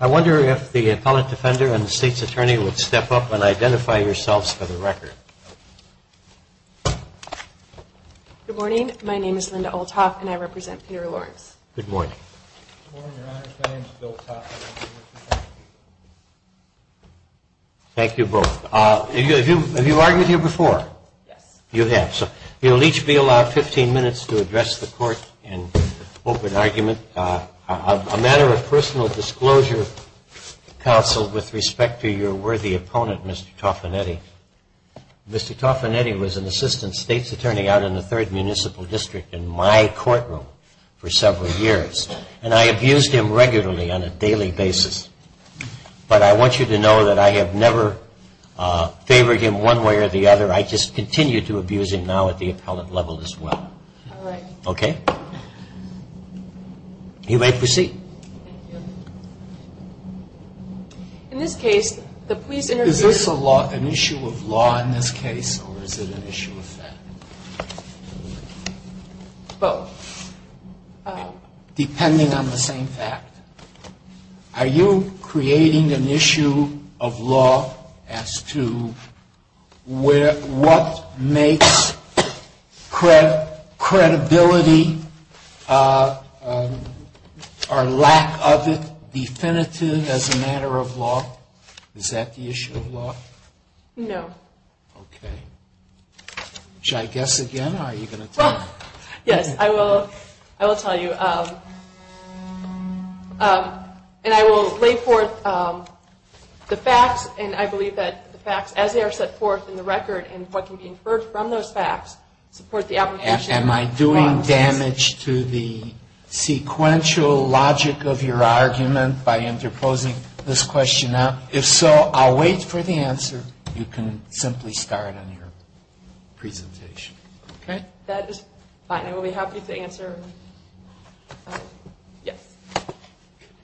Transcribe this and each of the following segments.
I wonder if the appellate defender and the state's attorney would step up and identify yourselves for the record. Good morning. My name is Linda Olthoff and I represent Peter Lawrence. Good morning. Good morning, Your Honor. My name is Bill Taffanetti. Thank you both. Have you argued here before? Yes. You have. So you'll each be allowed 15 minutes to address the court and open argument. A matter of personal disclosure, counsel, with respect to your worthy opponent, Mr. Taffanetti. Mr. Taffanetti was an assistant state's attorney out in the 3rd Municipal District in my courtroom for several years. And I abused him regularly on a daily basis. But I want you to know that I have never favored him one way or the other. I just continue to abuse him now at the appellate level as well. All right. Okay. You may proceed. Thank you. Is this an issue of law in this case or is it an issue of fact? Both. Depending on the same fact. Are you creating an issue of law as to what makes credibility or lack of it definitive as a matter of law? Is that the issue of law? No. Okay. Yes. I will tell you. And I will lay forth the facts. And I believe that the facts as they are set forth in the record and what can be inferred from those facts support the application of law. Am I doing damage to the sequential logic of your argument by interposing this question now? If so, I'll wait for the answer. You can simply start on your presentation. Okay. That is fine. I will be happy to answer. Yes.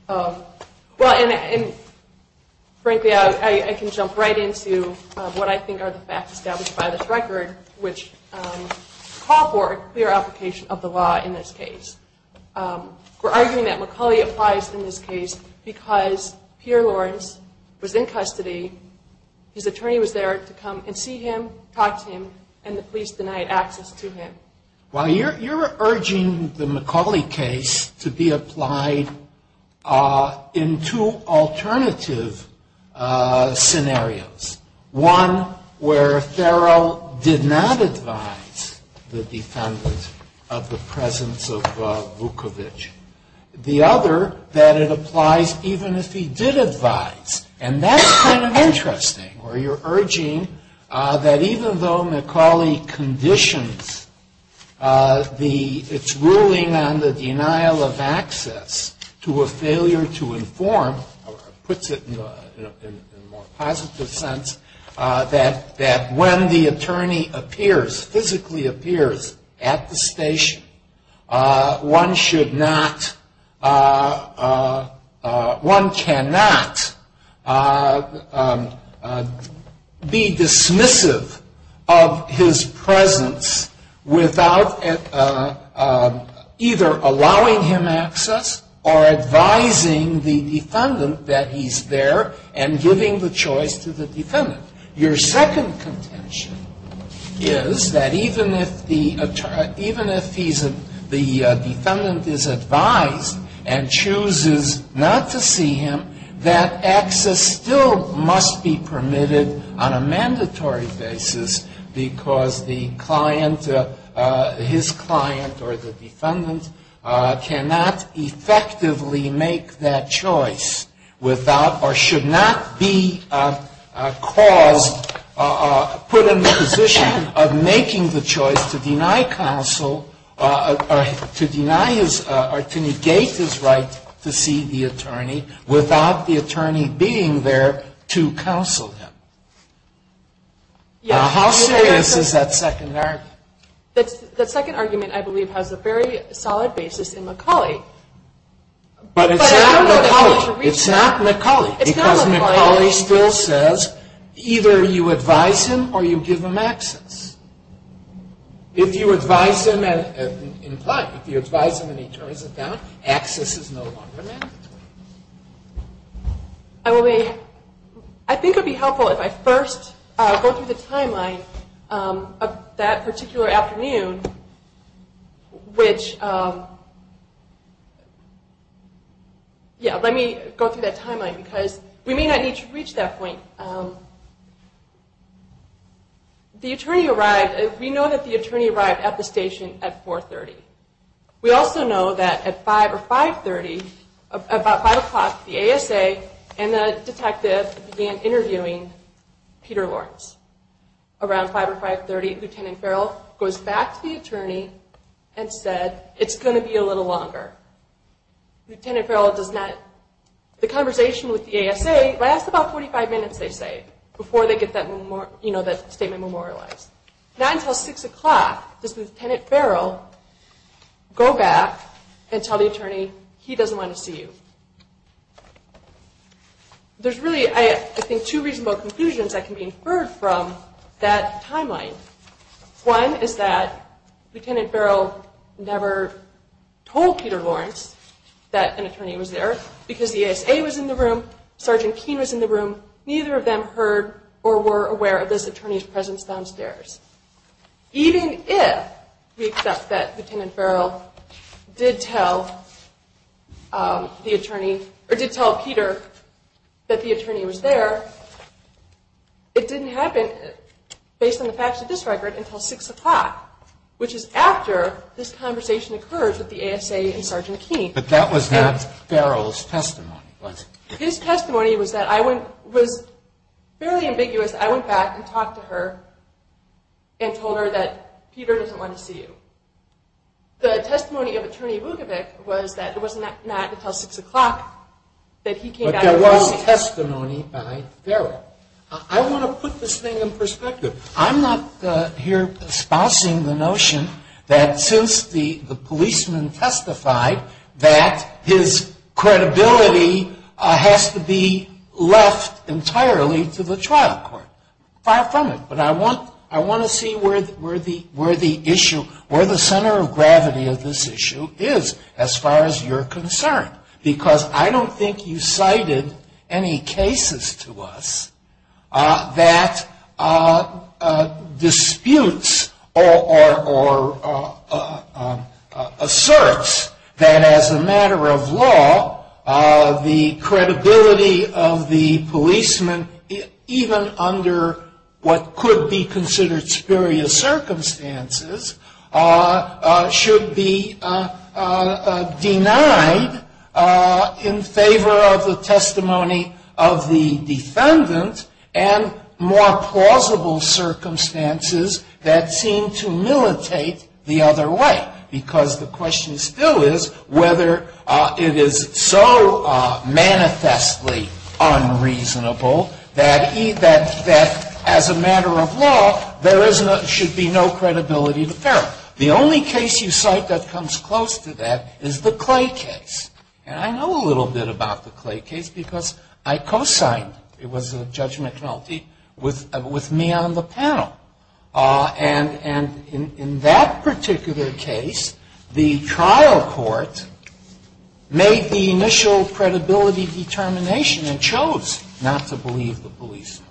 Well, and frankly, I can jump right into what I think are the facts established by this record, which call for a clear application of the law in this case. We're arguing that McCulley applies in this case because Pierre Lawrence was in custody. His attorney was there to come and see him, talk to him, and the police denied access to him. Well, you're urging the McCulley case to be applied in two alternative scenarios, one where Farrell did not advise the defendant of the presence of Vukovic, the other that it applies even if he did advise. And that's kind of interesting, where you're urging that even though McCulley conditions its ruling on the denial of access to a failure to inform, puts it in a more positive sense, that when the attorney appears, physically appears at the station, one should not, one cannot be dismissive of his presence without either allowing him access or advising the defendant that he's there and giving the choice to the defendant. Your second contention is that even if the defendant is advised and chooses not to see him, that access still must be permitted on a mandatory basis because the client, his client or the defendant cannot effectively make that choice without, or should not be caused, put in the position of making the choice to deny counsel, or to negate his right to see the attorney without the attorney being there to counsel him. How serious is that second argument? The second argument, I believe, has a very solid basis in McCulley. But it's not McCulley. It's not McCulley because McCulley still says either you advise him or you give him access. If you advise him and imply, if you advise him and he turns it down, access is no longer mandatory. I think it would be helpful if I first go through the timeline of that particular afternoon, which, yeah, let me go through that timeline because we may not need to reach that point. The attorney arrived, we know that the attorney arrived at the station at 4.30. We also know that at 5 or 5.30, about 5 o'clock, the ASA and the detective began interviewing Peter Lawrence. Around 5 or 5.30, Lieutenant Farrell goes back to the attorney and said, it's going to be a little longer. Lieutenant Farrell does not, the conversation with the ASA lasts about 45 minutes, they say, before they get that statement memorialized. Not until 6 o'clock does Lieutenant Farrell go back and tell the attorney he doesn't want to see you. There's really, I think, two reasonable conclusions that can be inferred from that timeline. One is that Lieutenant Farrell never told Peter Lawrence that an attorney was there because the ASA was in the room, Sergeant Keene was in the room, neither of them heard or were aware of this attorney's presence downstairs. Even if we accept that Lieutenant Farrell did tell the attorney, or did tell Peter that the attorney was there, it didn't happen, based on the facts of this record, until 6 o'clock, which is after this conversation occurs with the ASA and Sergeant Keene. But that was not Farrell's testimony, was it? His testimony was fairly ambiguous. I went back and talked to her and told her that Peter doesn't want to see you. The testimony of Attorney Vukovic was that it was not until 6 o'clock that he came back. But there was testimony by Farrell. I want to put this thing in perspective. I'm not here espousing the notion that since the policeman testified that his credibility has to be left entirely to the trial court. Far from it. But I want to see where the center of gravity of this issue is, as far as you're concerned. Because I don't think you cited any cases to us that disputes or asserts that as a matter of law, the credibility of the policeman, even under what could be considered superior circumstances, should be denied in favor of the testimony of the defendant and more plausible circumstances that seem to militate the other way. Because the question still is whether it is so manifestly unreasonable that as a matter of law, there should be no credibility to Farrell. The only case you cite that comes close to that is the Clay case. And I know a little bit about the Clay case because I co-signed, it was a judgment penalty, with me on the panel. And in that particular case, the trial court made the initial credibility determination and chose not to believe the policeman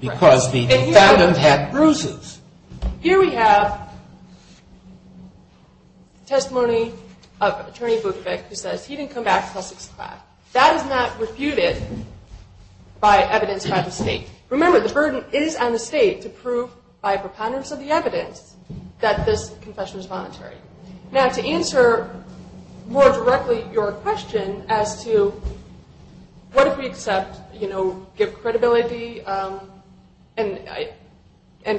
because the defendant had bruises. Here we have testimony of Attorney Vukovic who says he didn't come back until 6 o'clock. That is not refuted by evidence from the State. Remember, the burden is on the State to prove by preponderance of the evidence that this confession was voluntary. Now, to answer more directly your question as to what if we accept, you know, give credibility, and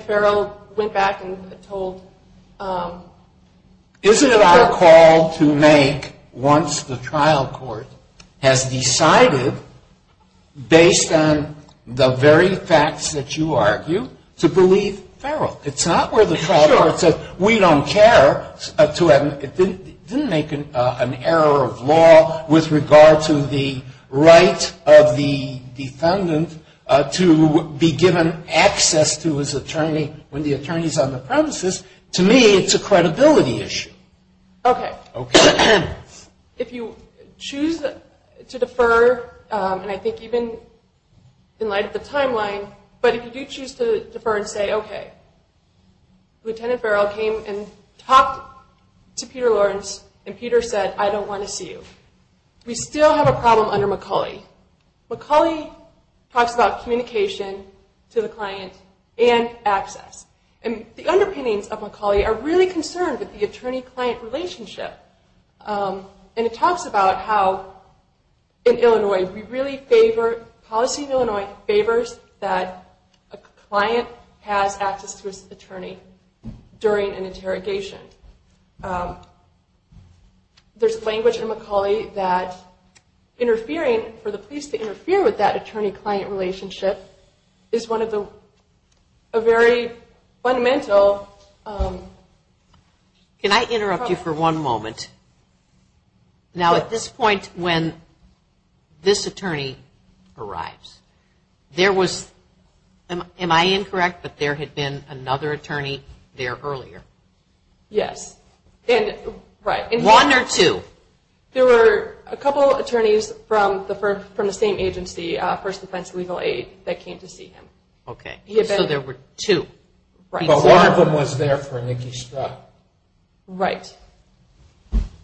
Farrell went back and told. Isn't it our call to make once the trial court has decided, based on the very facts that you argue, to believe Farrell? It's not where the trial court says, we don't care. It didn't make an error of law with regard to the right of the defendant to be given access to his attorney when the attorney is on the premises. To me, it's a credibility issue. Okay. If you choose to defer, and I think even in light of the timeline, but if you do choose to defer and say, okay, Lieutenant Farrell came and talked to Peter Lawrence, and Peter said, I don't want to see you. We still have a problem under McCulley. McCulley talks about communication to the client and access. And the underpinnings of McCulley are really concerned with the attorney-client relationship. And it talks about how, in Illinois, we really favor, policy in Illinois favors that a client has access to his attorney during an interrogation. There's language in McCulley that interfering, for the police to interfere with that attorney-client relationship, is one of the very fundamental. Can I interrupt you for one moment? Now, at this point, when this attorney arrives, there was, am I incorrect, but there had been another attorney there earlier? Yes. One or two? There were a couple attorneys from the same agency, First Defense Legal Aid, that came to see him. Okay. So there were two. Right. But one of them was there for Nicky Stroud. Right.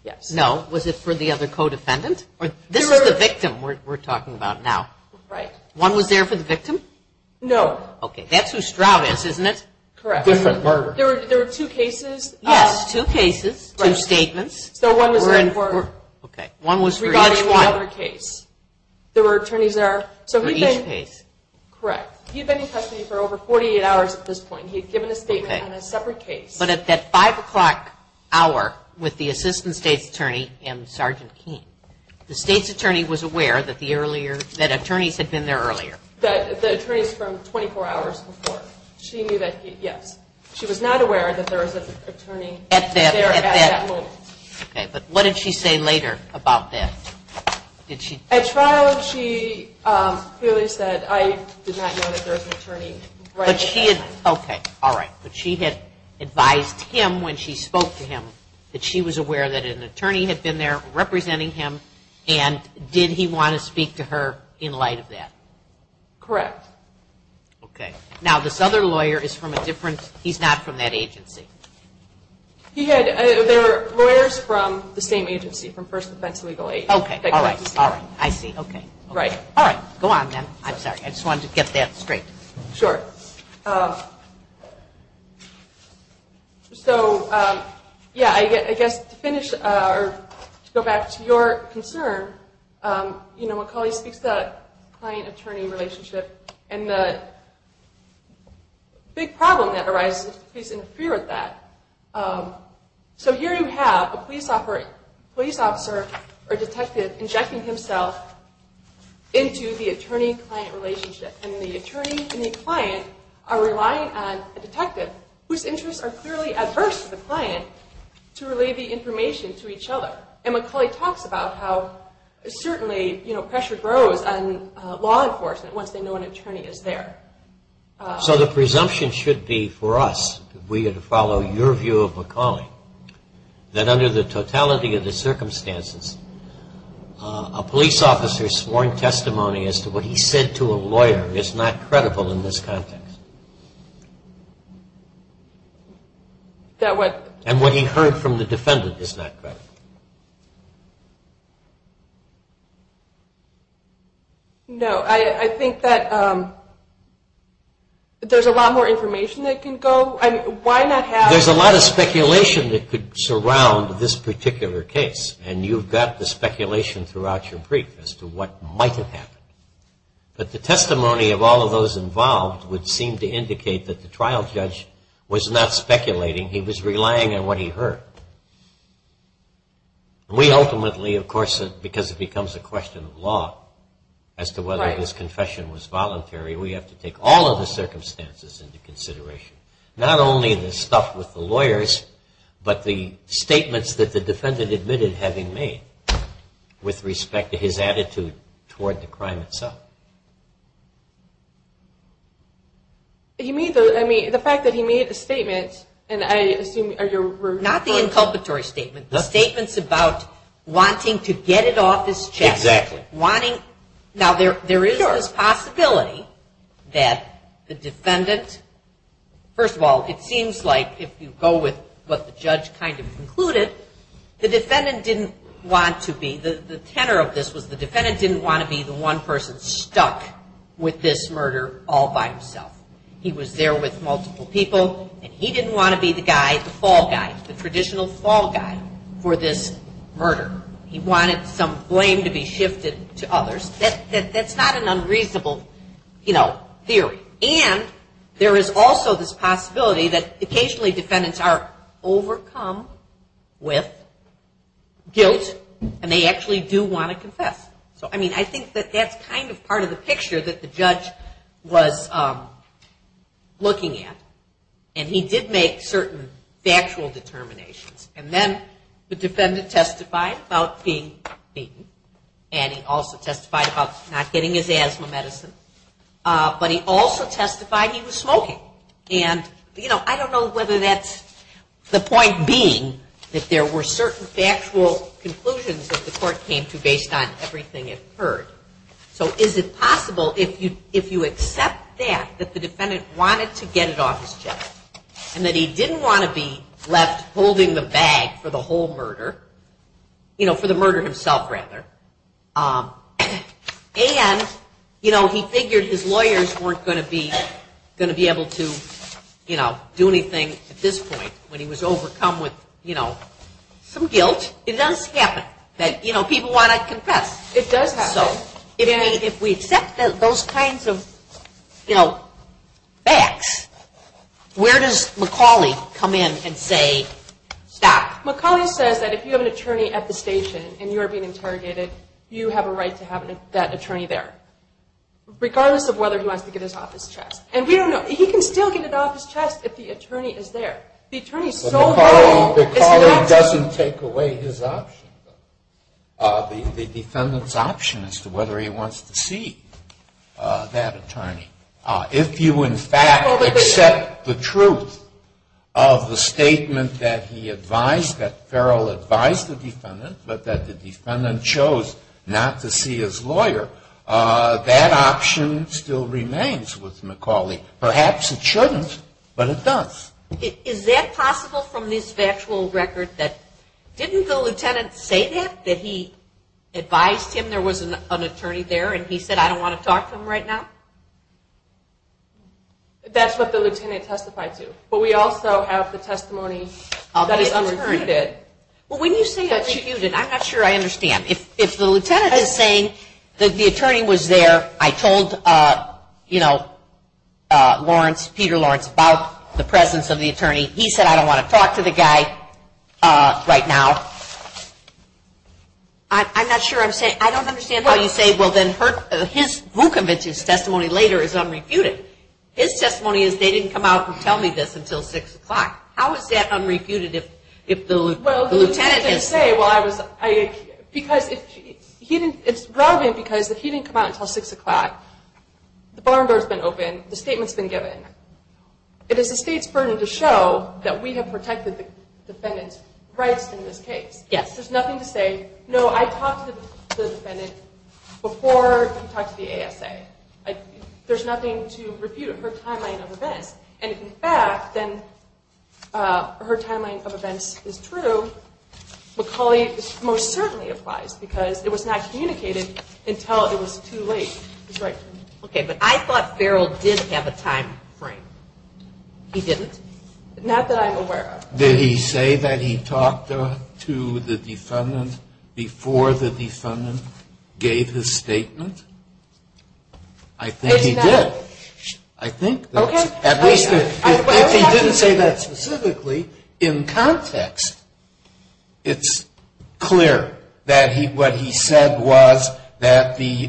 Yes. No. Was it for the other co-defendant? This is the victim we're talking about now. Right. One was there for the victim? No. Okay. That's who Stroud is, isn't it? Correct. Different murder. There were two cases. Yes. Two cases. Two statements. So one was in court. Okay. One was for each one. Regarding the other case. There were attorneys there. For each case. Correct. He had been in custody for over 48 hours at this point. He had given a statement on a separate case. But at that 5 o'clock hour with the assistant state's attorney and Sergeant Keene, the state's attorney was aware that attorneys had been there earlier. The attorneys from 24 hours before. She knew that, yes. She was not aware that there was an attorney there at that moment. Okay. But what did she say later about that? At trial, she clearly said, I did not know that there was an attorney right at that time. Okay. All right. But she had advised him when she spoke to him that she was aware that an attorney had been there representing him, and did he want to speak to her in light of that? Correct. Okay. Now, this other lawyer is from a different he's not from that agency. He had, they're lawyers from the same agency, from First Defense Legal Aid. Okay. All right. All right. I see. Okay. Right. All right. Go on then. I'm sorry. I just wanted to get that straight. Sure. So, yeah, I guess to finish or to go back to your concern, you know, McCauley speaks to a client-attorney relationship, and the big problem that arises is the police interfere with that. So here you have a police officer or detective injecting himself into the attorney-client relationship. And the attorney and the client are relying on a detective, whose interests are clearly adverse to the client, to relay the information to each other. And McCauley talks about how certainly, you know, the attorney is there. So the presumption should be for us, if we were to follow your view of McCauley, that under the totality of the circumstances, a police officer's sworn testimony as to what he said to a lawyer is not credible in this context. And what he heard from the defendant is not credible. No. I think that there's a lot more information that can go. I mean, why not have... There's a lot of speculation that could surround this particular case, and you've got the speculation throughout your brief as to what might have happened. But the testimony of all of those involved would seem to indicate that the trial judge was not speculating. He was relying on what he heard. We ultimately, of course, because it becomes a question of law as to whether his confession was voluntary, we have to take all of the circumstances into consideration. Not only the stuff with the lawyers, but the statements that the defendant admitted having made with respect to his attitude toward the crime itself. The fact that he made a statement, and I assume... Not the inculpatory statement. The statement's about wanting to get it off his chest. Exactly. Now, there is this possibility that the defendant... First of all, it seems like if you go with what the judge kind of concluded, the defendant didn't want to be... The tenor of this was the defendant didn't want to be the one person stuck with this murder all by himself. He was there with multiple people, and he didn't want to be the guy, the fall guy, the traditional fall guy for this murder. He wanted some blame to be shifted to others. That's not an unreasonable theory. And there is also this possibility that occasionally defendants are overcome with guilt, and they actually do want to confess. So, I mean, I think that that's kind of part of the picture that the judge was looking at, and he did make certain factual determinations. And then the defendant testified about being beaten, and he also testified about not getting his asthma medicine. But he also testified he was smoking. And I don't know whether that's the point being that there were certain factual conclusions that the court came to based on everything it heard. So is it possible, if you accept that, that the defendant wanted to get it off his chest, and that he didn't want to be left holding the bag for the whole murder, you know, for the murder himself, rather, and he figured his lawyers weren't going to be able to do anything at this point when he was overcome with some guilt. It does happen that people want to confess. It does happen. So, if we accept those kinds of, you know, facts, where does McAuley come in and say, stop? McAuley says that if you have an attorney at the station and you are being interrogated, you have a right to have that attorney there, regardless of whether he wants to get it off his chest. And we don't know. He can still get it off his chest if the attorney is there. The attorney is so vulnerable. McAuley doesn't take away his option, though. The defendant's option as to whether he wants to see that attorney. If you, in fact, accept the truth of the statement that he advised, that Farrell advised the defendant, but that the defendant chose not to see his lawyer, that option still remains with McAuley. Perhaps it shouldn't, but it does. Is that possible from this factual record that didn't the lieutenant say that he advised him there was an attorney there and he said, I don't want to talk to him right now? That's what the lieutenant testified to. But we also have the testimony that is unrebutted. Well, when you say unrebutted, I'm not sure I understand. If the lieutenant is saying that the attorney was there, I told, you know, Lawrence, Peter Lawrence, about the presence of the attorney. He said, I don't want to talk to the guy right now. I'm not sure I'm saying – I don't understand how you say, well, then her – his – Vukovich's testimony later is unrebutted. His testimony is, they didn't come out and tell me this until 6 o'clock. How is that unrebutted if the lieutenant is – Well, the lieutenant didn't say, well, I was – because he didn't – it's relevant because if he didn't come out until 6 o'clock, the barn door has been opened, the statement has been given. It is the state's burden to show that we have protected the defendant's rights in this case. Yes. There's nothing to say, no, I talked to the defendant before he talked to the ASA. There's nothing to refute her timeline of events. And if, in fact, then her timeline of events is true, McCauley most certainly applies because it was not communicated until it was too late. That's right. Okay, but I thought Farrell did have a timeframe. He didn't? Not that I'm aware of. Did he say that he talked to the defendant before the defendant gave his statement? I think he did. I think that's – at least if he didn't say that specifically, in context, it's clear that what he said was that the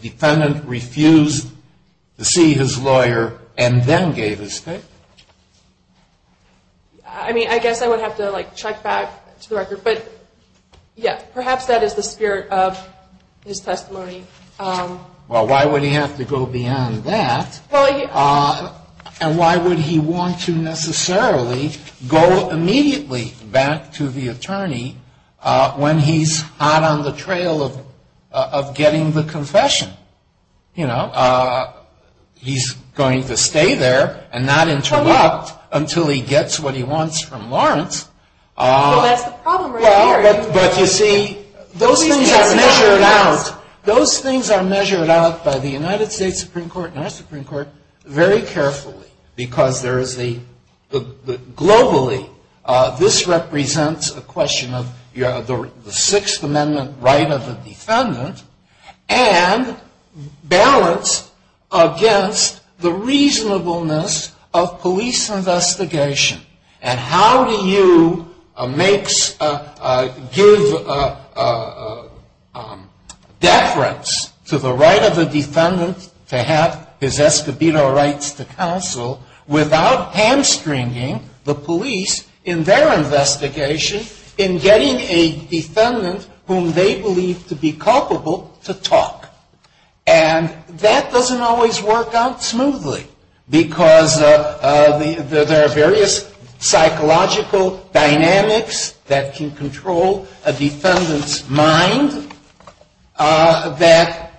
defendant refused to see his lawyer and then gave his statement. I mean, I guess I would have to, like, check back to the record. But, yes, perhaps that is the spirit of his testimony. Well, why would he have to go beyond that? And why would he want to necessarily go immediately back to the attorney when he's hot on the trail of getting the confession? You know, he's going to stay there and not interrupt until he gets what he wants from Lawrence. Well, that's the problem right here. But, you see, those things are measured out by the United States Supreme Court and our Supreme Court very carefully. Because there is the – globally, this represents a question of the Sixth Amendment right of the defendant and balance against the reasonableness of police investigation. And how do you make – give deference to the right of the defendant to have his Escobedo rights to counsel without hamstringing the police in their investigation in getting a defendant whom they believe to be culpable to talk? And that doesn't always work out smoothly because there are various psychological dynamics that can control a defendant's mind that –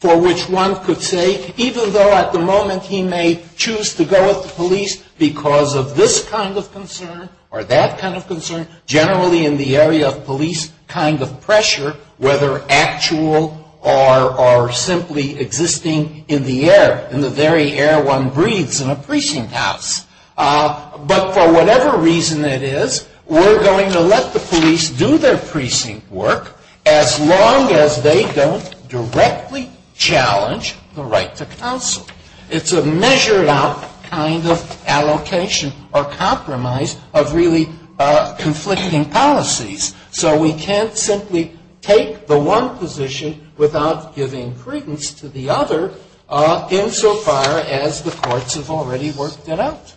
for which one could say, even though at the moment he may choose to go with the police because of this kind of concern or that kind of concern, generally in the area of police kind of pressure, whether actual or simply existing in the air, in the very air one breathes in a precinct house. But for whatever reason it is, we're going to let the police do their precinct work as long as they don't directly challenge the right to counsel. It's a measured out kind of allocation or compromise of really conflicting policies. So we can't simply take the one position without giving credence to the other, insofar as the courts have already worked it out.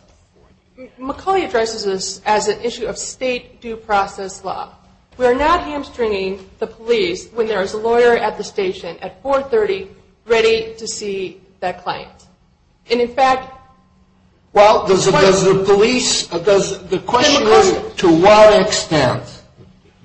McCauley addresses this as an issue of state due process law. We are not hamstringing the police when there is a lawyer at the station at 4.30 ready to see that client. And in fact – Well, does the police – the question is, to what extent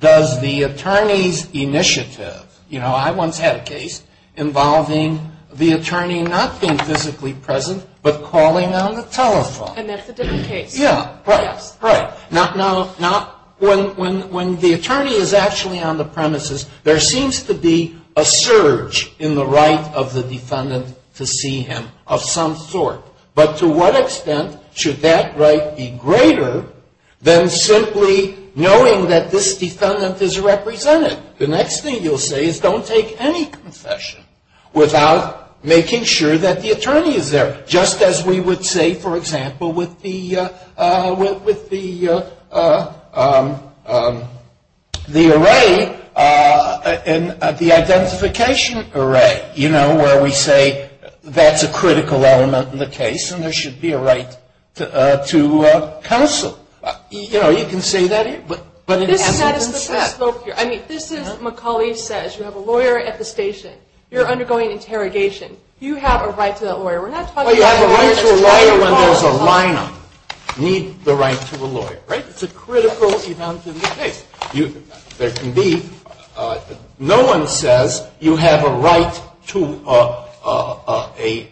does the attorney's initiative – you know, I once had a case involving the attorney not being physically present but calling on the telephone. And that's a different case. Yeah, right, right. Now, when the attorney is actually on the premises, there seems to be a surge in the right of the defendant to see him of some sort. But to what extent should that right be greater than simply knowing that this defendant is represented? The next thing you'll say is don't take any confession without making sure that the attorney is there. Just as we would say, for example, with the array, the identification array, you know, where we say that's a critical element in the case and there should be a right to counsel. You know, you can say that. But in essence – This is what we spoke here. I mean, this is – McCauley says you have a lawyer at the station. You have a right to that lawyer. Well, you have a right to a lawyer when there's a lineup. You need the right to a lawyer, right? It's a critical element in the case. There can be – no one says you have a right to a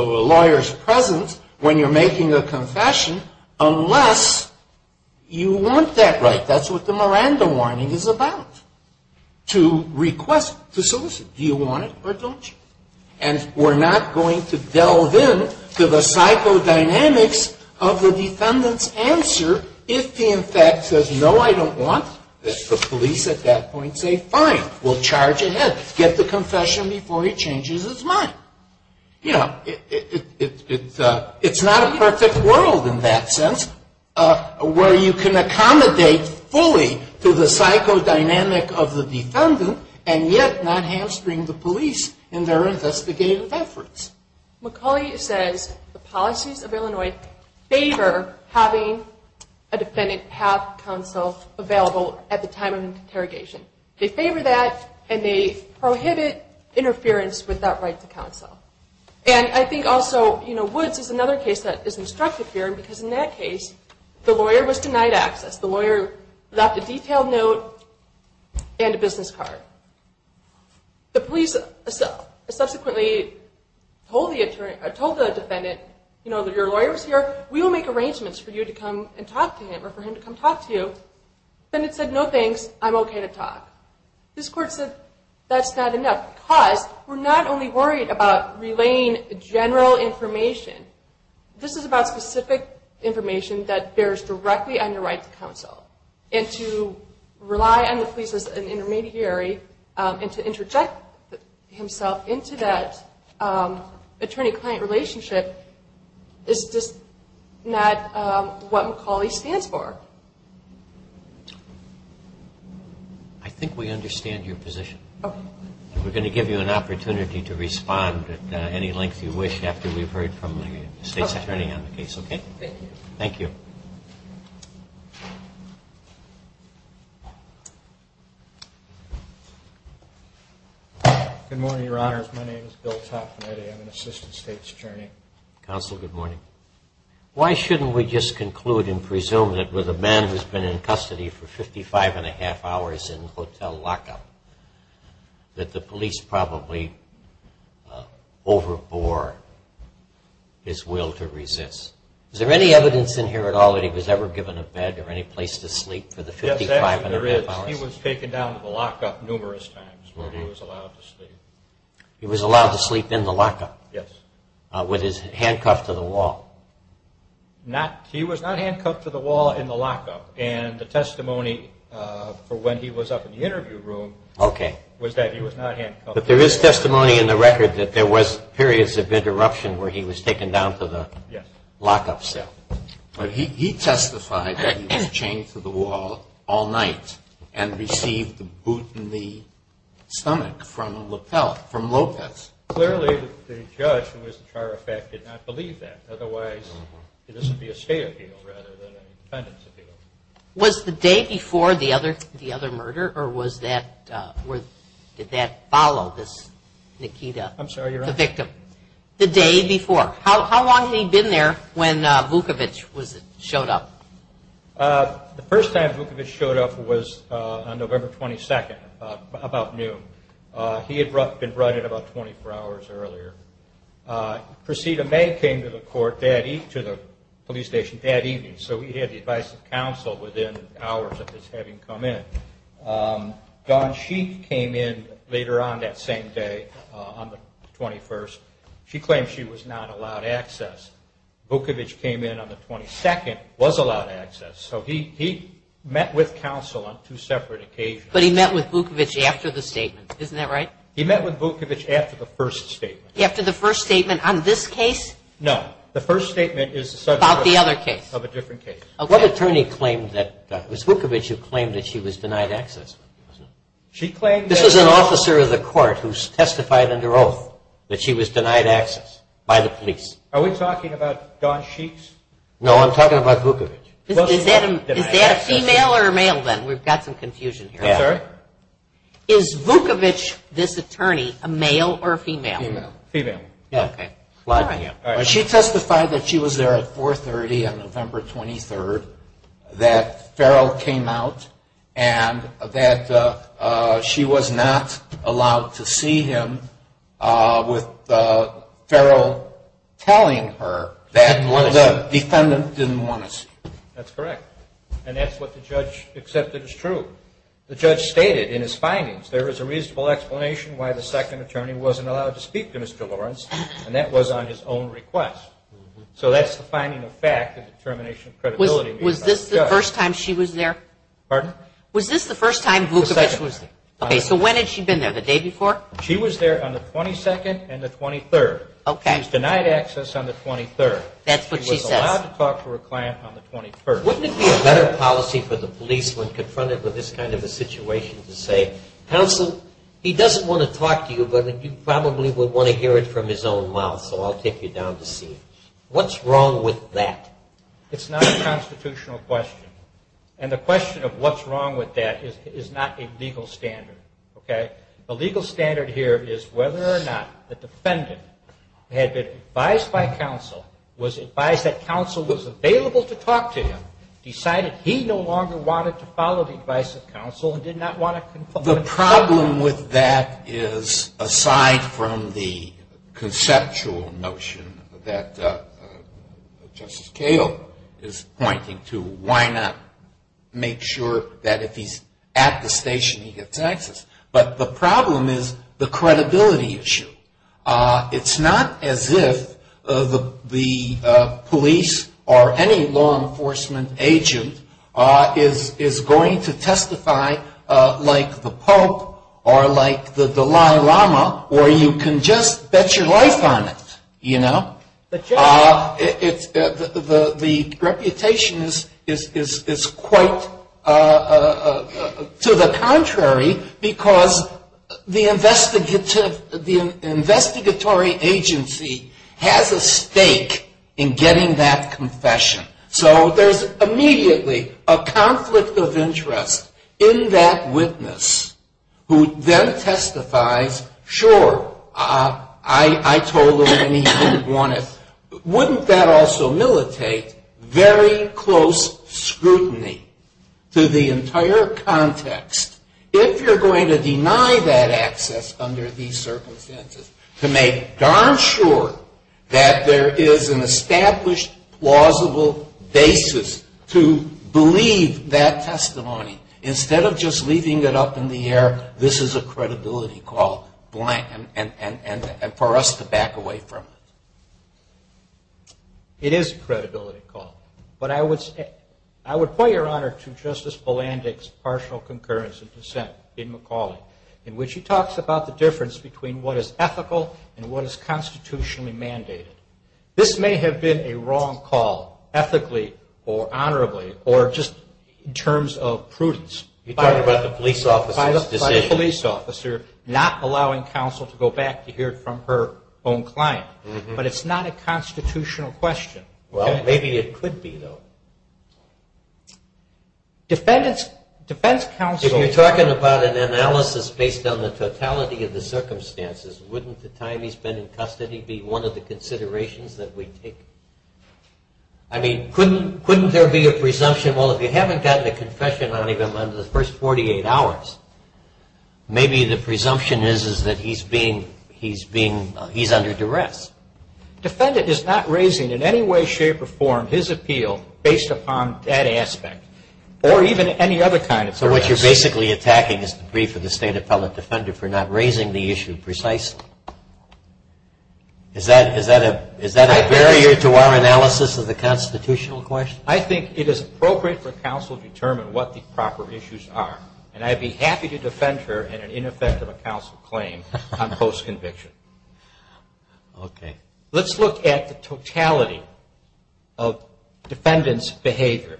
lawyer's presence when you're making a confession unless you want that right. That's what the Miranda warning is about, to request, to solicit. Do you want it or don't you? And we're not going to delve in to the psychodynamics of the defendant's answer. If he in fact says, no, I don't want, the police at that point say, fine, we'll charge ahead. Get the confession before he changes his mind. You know, it's not a perfect world in that sense where you can accommodate fully to the psychodynamic of the defendant and yet not hamstring the police in their investigative efforts. McCauley says the policies of Illinois favor having a defendant have counsel available at the time of interrogation. They favor that and they prohibit interference with that right to counsel. And I think also, you know, Woods is another case that is instructive here because in that case, the lawyer was denied access. The lawyer left a detailed note and a business card. The police subsequently told the defendant, you know, your lawyer is here. We will make arrangements for you to come and talk to him or for him to come talk to you. The defendant said, no, thanks. I'm okay to talk. This court said, that's not enough because we're not only worried about relaying general information. This is about specific information that bears directly on your right to counsel. And to rely on the police as an intermediary and to interject himself into that attorney-client relationship is just not what McCauley stands for. I think we understand your position. Okay. We're going to give you an opportunity to respond at any length you wish after we've heard from the state's attorney on the case. Okay? Thank you. Thank you. Good morning, Your Honors. My name is Bill Taffanetti. I'm an assistant state's attorney. Counsel, good morning. Why shouldn't we just conclude and presume that with a man who's been in custody for 55-and-a-half hours in hotel lockup, that the police probably overbore his will to resist? Is there any evidence in here at all that he was ever given a bed or any place to sleep for the 55-and-a-half hours? Yes, there is. He was taken down to the lockup numerous times when he was allowed to sleep. He was allowed to sleep in the lockup? Yes. With his handcuff to the wall? He was not handcuffed to the wall in the lockup. And the testimony for when he was up in the interview room was that he was not handcuffed. But there is testimony in the record that there was periods of interruption where he was taken down to the lockup cell. Yes. But he testified that he was chained to the wall all night and received a boot in the stomach from a lapel from Lopez. Clearly, the judge, who was the chiropractor, did not believe that. Otherwise, this would be a state appeal rather than a defendant's appeal. Was the day before the other murder, or did that follow this Nikita? I'm sorry, Your Honor? The victim. The day before. How long had he been there when Vukovic showed up? The first time Vukovic showed up was on November 22nd, about noon. He had been brought in about 24 hours earlier. Proceda May came to the police station that evening. So he had the advice of counsel within hours of his having come in. Dawn Sheik came in later on that same day on the 21st. She claimed she was not allowed access. Vukovic came in on the 22nd, was allowed access. So he met with counsel on two separate occasions. But he met with Vukovic after the statement. Isn't that right? He met with Vukovic after the first statement. After the first statement on this case? No. The first statement is about the other case. Of a different case. Okay. What attorney claimed that – was Vukovic who claimed that she was denied access? She claimed that – This was an officer of the court who testified under oath that she was denied access by the police. Are we talking about Dawn Sheik's? No, I'm talking about Vukovic. Is that a female or a male then? We've got some confusion here. I'm sorry? Is Vukovic, this attorney, a male or a female? Female. Okay. She testified that she was there at 430 on November 23rd, that Farrell came out, and that she was not allowed to see him with Farrell telling her that the defendant didn't want to see her. That's correct. And that's what the judge accepted as true. The judge stated in his findings there was a reasonable explanation why the second attorney wasn't allowed to speak to Mr. Lawrence, and that was on his own request. So that's the finding of fact, the determination of credibility. Was this the first time she was there? Pardon? Was this the first time Vukovic was there? The second. Okay. So when had she been there, the day before? She was there on the 22nd and the 23rd. Okay. She was denied access on the 23rd. That's what she says. She was allowed to talk to her client on the 23rd. Wouldn't it be a better policy for the policeman confronted with this kind of a situation to say, counsel, he doesn't want to talk to you, but you probably would want to hear it from his own mouth, so I'll take you down to see him? What's wrong with that? It's not a constitutional question. And the question of what's wrong with that is not a legal standard, okay? The legal standard here is whether or not the defendant had been advised by counsel, was advised that counsel was available to talk to him, decided he no longer wanted to follow the advice of counsel and did not want to confront him. The problem with that is, aside from the conceptual notion that Justice Cato is pointing to, why not make sure that if he's at the station he gets access? But the problem is the credibility issue. It's not as if the police or any law enforcement agent is going to testify like the Pope or like the Dalai Lama, or you can just bet your life on it, you know? The reputation is quite to the contrary because the investigatory agency has a stake in getting that confession. So there's immediately a conflict of interest in that witness who then testifies, sure, I told him and he didn't want it. Wouldn't that also militate very close scrutiny to the entire context? If you're going to deny that access under these circumstances, to make darn sure that there is an established, plausible basis to believe that testimony, instead of just leaving it up in the air, this is a credibility call and for us to back away from it. It is a credibility call. But I would point, Your Honor, to Justice Bolandic's partial concurrence in dissent in McCauley, in which he talks about the difference between what is ethical and what is constitutionally mandated. This may have been a wrong call ethically or honorably or just in terms of prudence. You're talking about the police officer's decision. By the police officer not allowing counsel to go back to hear it from her own client. But it's not a constitutional question. Well, maybe it could be, though. Defendant's defense counsel. If you're talking about an analysis based on the totality of the circumstances, wouldn't the time he's been in custody be one of the considerations that we take? I mean, couldn't there be a presumption? Well, if you haven't gotten a confession on him under the first 48 hours, maybe the presumption is that he's under duress. Defendant is not raising in any way, shape, or form his appeal based upon that aspect or even any other kind of duress. So what you're basically attacking is the brief of the State Appellate Defender for not raising the issue precisely. Is that a barrier to our analysis of the constitutional question? I think it is appropriate for counsel to determine what the proper issues are. And I'd be happy to defend her in an ineffective counsel claim on post-conviction. Let's look at the totality of defendant's behavior.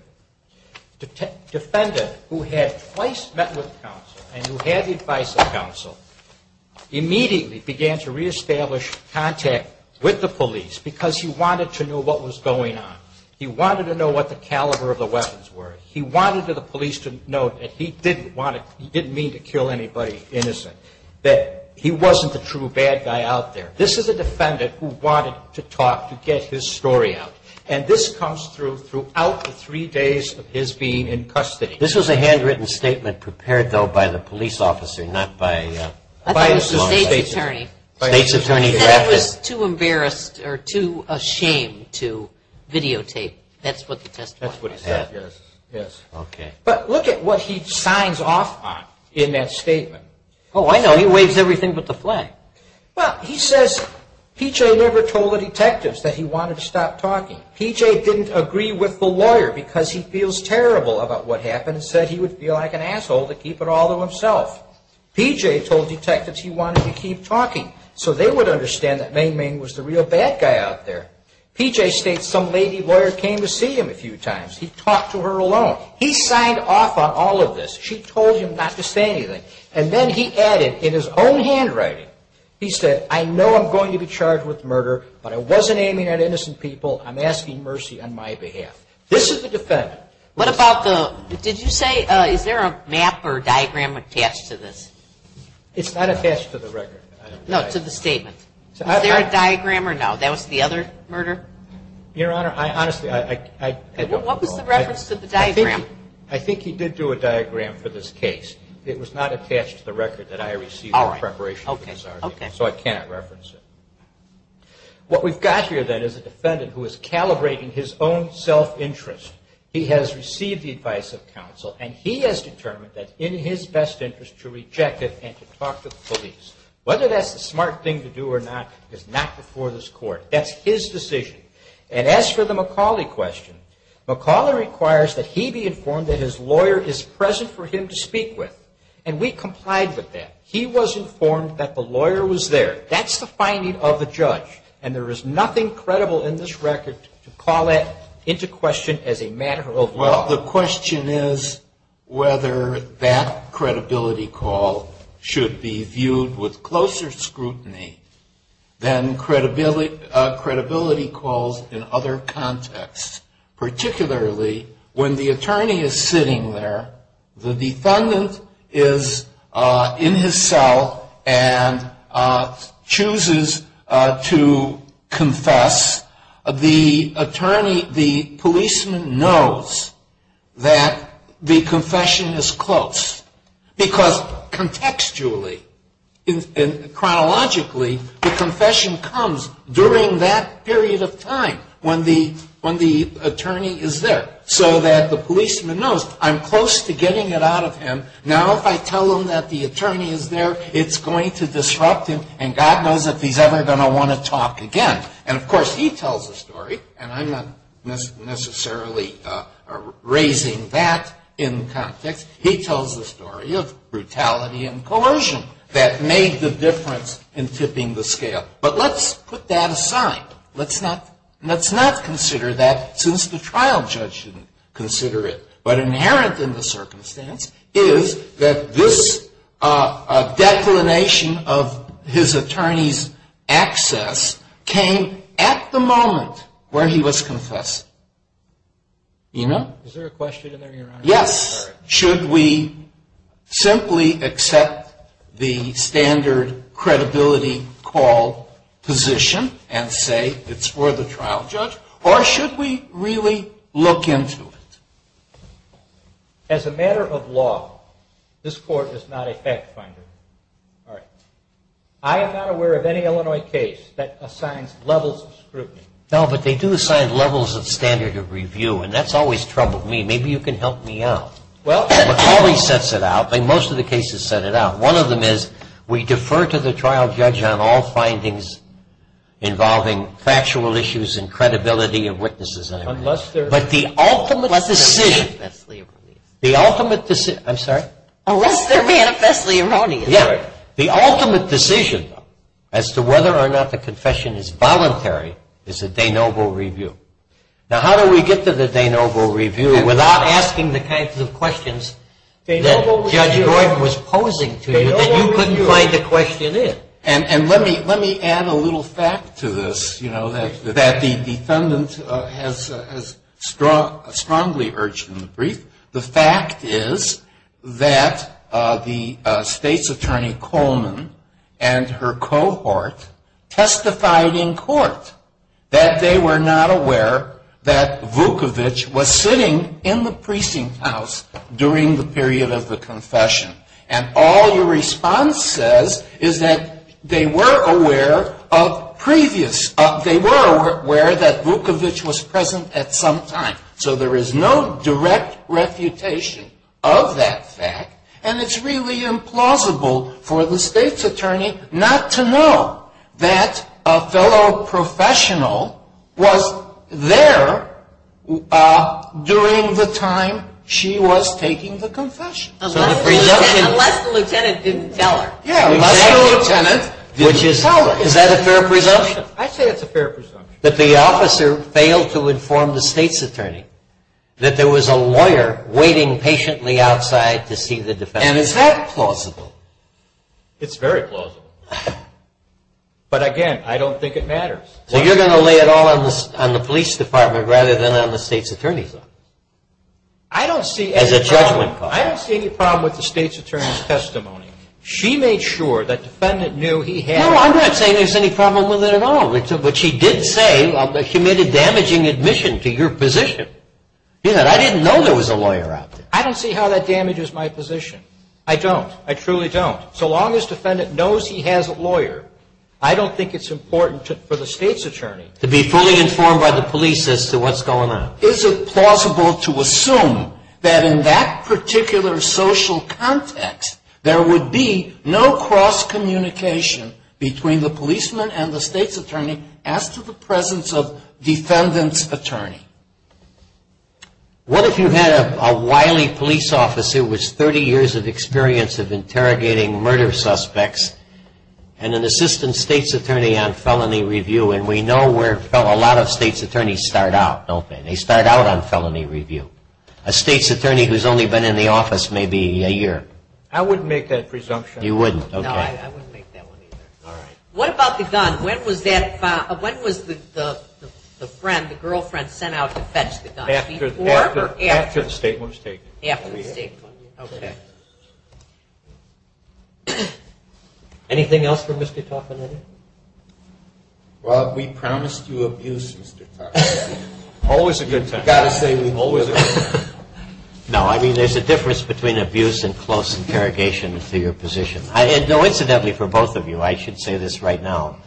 Defendant who had twice met with counsel and who had the advice of counsel immediately began to reestablish contact with the police because he wanted to know what was going on. He wanted to know what the caliber of the weapons were. He wanted the police to know that he didn't mean to kill anybody innocent, that he wasn't the true bad guy out there. This is a defendant who wanted to talk to get his story out. And this comes through throughout the three days of his being in custody. This was a handwritten statement prepared, though, by the police officer, not by... I thought it was the state's attorney. State's attorney drafted it. He said it was too embarrassed or too ashamed to videotape. That's what the testimony said. That's what he said, yes. Okay. But look at what he signs off on in that statement. Oh, I know. He waves everything but the flag. Well, he says P.J. never told the detectives that he wanted to stop talking. P.J. didn't agree with the lawyer because he feels terrible about what happened and said he would be like an asshole to keep it all to himself. P.J. told detectives he wanted to keep talking so they would understand that Meng Meng was the real bad guy out there. P.J. states some lady lawyer came to see him a few times. He talked to her alone. He signed off on all of this. She told him not to say anything. And then he added in his own handwriting, he said, I know I'm going to be charged with murder, but I wasn't aiming at innocent people. I'm asking mercy on my behalf. This is the defendant. What about the, did you say, is there a map or a diagram attached to this? It's not attached to the record. No, to the statement. Is there a diagram or no? That was the other murder? Your Honor, I honestly, I don't know. What was the reference to the diagram? I think he did do a diagram for this case. It was not attached to the record that I received in preparation for this argument. So I cannot reference it. What we've got here, then, is a defendant who is calibrating his own self-interest. He has received the advice of counsel, and he has determined that in his best interest to reject it and to talk to the police. Whether that's the smart thing to do or not is not before this Court. That's his decision. And as for the McCauley question, McCauley requires that he be informed that his lawyer is present for him to speak with, and we complied with that. He was informed that the lawyer was there. That's the finding of the judge, and there is nothing credible in this record to call that into question as a matter of law. Well, the question is whether that credibility call should be viewed with closer scrutiny than credibility calls in other contexts, particularly when the attorney is sitting there, the defendant is in his cell and chooses to confess. The policeman knows that the confession is close because contextually and chronologically the confession comes during that period of time when the attorney is there so that the policeman knows I'm close to getting it out of him. Now if I tell him that the attorney is there, it's going to disrupt him, and God knows if he's ever going to want to talk again. And, of course, he tells the story, and I'm not necessarily raising that in context. He tells the story of brutality and coercion that made the difference in tipping the scale. But let's put that aside. Let's not consider that since the trial judge didn't consider it. What's inherent in the circumstance is that this declination of his attorney's access came at the moment where he was confessing. Eno? Is there a question in there, Your Honor? Yes. Should we simply accept the standard credibility call position and say it's for the trial judge, or should we really look into it? As a matter of law, this Court is not a fact finder. All right. I am not aware of any Illinois case that assigns levels of scrutiny. No, but they do assign levels of standard of review, and that's always troubled me. Maybe you can help me out. McCauley sets it out. Most of the cases set it out. One of them is we defer to the trial judge on all findings involving factual issues and credibility of witnesses. Unless they're manifestly erroneous. I'm sorry? Unless they're manifestly erroneous. The ultimate decision as to whether or not the confession is voluntary is a de novo review. Now, how do we get to the de novo review without asking the kinds of questions that Judge Gordon was posing to you that you couldn't find the question in? And let me add a little fact to this, you know, that the defendant has strongly urged in the brief. The fact is that the State's Attorney Coleman and her cohort testified in court that they were not aware that Vukovic was sitting in the precinct house during the period of the confession. And all your response says is that they were aware of previous, they were aware that Vukovic was present at some time. So there is no direct refutation of that fact. And it's really implausible for the State's Attorney not to know that a fellow professional was there during the time she was taking the confession. Unless the lieutenant didn't tell her. Yeah, unless the lieutenant didn't tell her. Is that a fair presumption? I say it's a fair presumption. That the officer failed to inform the State's Attorney that there was a lawyer waiting patiently outside to see the defendant. And is that plausible? It's very plausible. But, again, I don't think it matters. So you're going to lay it all on the police department rather than on the State's Attorney's office? I don't see any problem with the State's Attorney's testimony. She made sure that the defendant knew he had. No, I'm not saying there's any problem with it at all. But she did say that she made a damaging admission to your position. She said, I didn't know there was a lawyer out there. I don't see how that damages my position. I don't. I truly don't. So long as the defendant knows he has a lawyer, I don't think it's important for the State's Attorney. To be fully informed by the police as to what's going on. Is it plausible to assume that in that particular social context, there would be no cross-communication between the policeman and the State's Attorney as to the presence of defendant's attorney? What if you had a wily police officer with 30 years of experience of interrogating murder suspects and an assistant State's Attorney on felony review? And we know where a lot of State's Attorneys start out, don't they? They start out on felony review. A State's Attorney who's only been in the office maybe a year. I wouldn't make that presumption. You wouldn't? Okay. No, I wouldn't make that one either. All right. What about the gun? When was the friend, the girlfriend, sent out to fetch the gun? After the statement was taken. After the statement. Okay. Anything else for Mr. Taffanetti? Well, we promised you abuse, Mr. Taffanetti. Always a good time. You've got to say, always a good time. No, I mean, there's a difference between abuse and close interrogation to your position. Incidentally, for both of you, I should say this right now.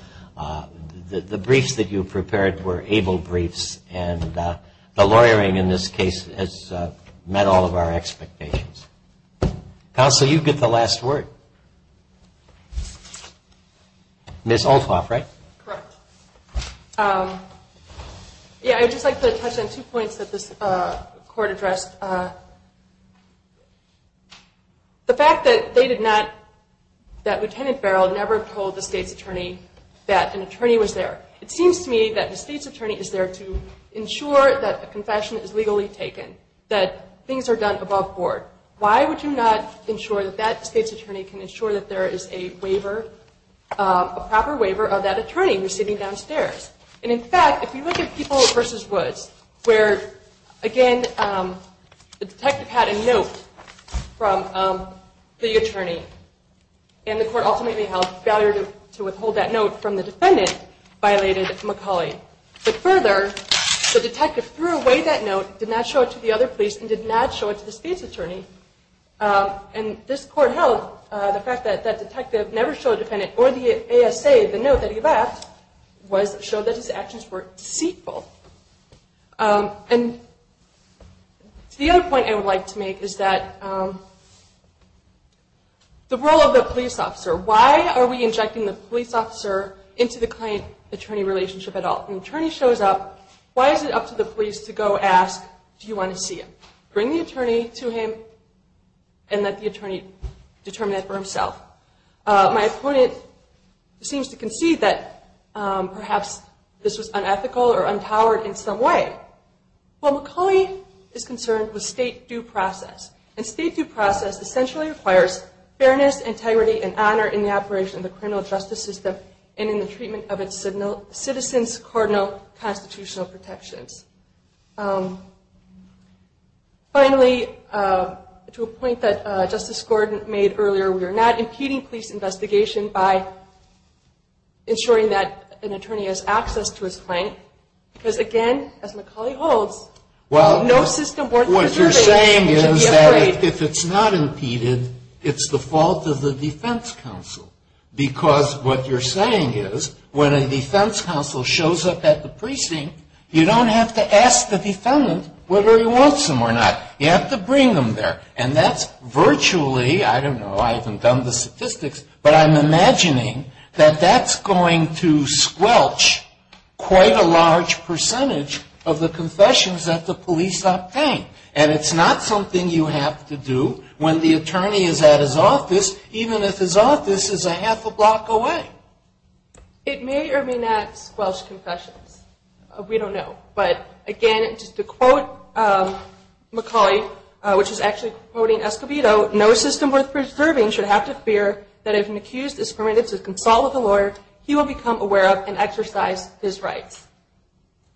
The briefs that you prepared were able briefs, and the lawyering in this case has met all of our expectations. Counsel, you get the last word. Ms. Althoff, right? Correct. Yeah, I'd just like to touch on two points that this Court addressed. The fact that they did not, that Lieutenant Barrell never told the State's Attorney that an attorney was there. It seems to me that the State's Attorney is there to ensure that a confession is legally taken, that things are done above board. Why would you not ensure that that State's Attorney can ensure that there is a waiver, a proper waiver of that attorney who's sitting downstairs? And, in fact, if you look at Peoples v. Woods, where, again, the detective had a note from the attorney, and the Court ultimately held failure to withhold that note from the defendant violated McCauley. But further, the detective threw away that note, did not show it to the other police, and did not show it to the State's Attorney. And this Court held the fact that that detective never showed a defendant or the ASA the note that he left showed that his actions were deceitful. And the other point I would like to make is that the role of the police officer, why are we injecting the police officer into the client-attorney relationship at all? When an attorney shows up, why is it up to the police to go ask, do you want to see him? Bring the attorney to him and let the attorney determine that for himself. My opponent seems to concede that perhaps this was unethical or untoward in some way. Well, McCauley is concerned with State due process. And State due process essentially requires fairness, integrity, and honor in the operation of the criminal justice system and in the treatment of its citizens, cardinal, constitutional protections. Finally, to a point that Justice Gordon made earlier, we are not impeding police investigation by ensuring that an attorney has access to his client. Because, again, as McCauley holds, no system worth preserving should be afraid. What you're saying is that if it's not impeded, it's the fault of the defense counsel. Because what you're saying is when a defense counsel shows up at the precinct, you don't have to ask the defendant whether he wants them or not. You have to bring them there. And that's virtually, I don't know, I haven't done the statistics, but I'm imagining that that's going to squelch quite a large percentage of the confessions that the police obtain. And it's not something you have to do when the attorney is at his office, even if his office is a half a block away. It may or may not squelch confessions. We don't know. But, again, just to quote McCauley, which is actually quoting Escobedo, no system worth preserving should have to fear that if an accused is permitted to consult with a lawyer, he will become aware of and exercise his rights.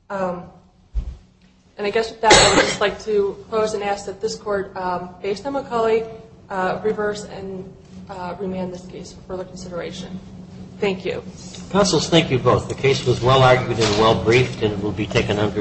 And I guess with that, I would just like to close and ask that this Court, based on McCauley, reverse and remand this case for further consideration. Thank you. Counsels, thank you both. The case was well-argued and well-briefed, and it will be taken under review.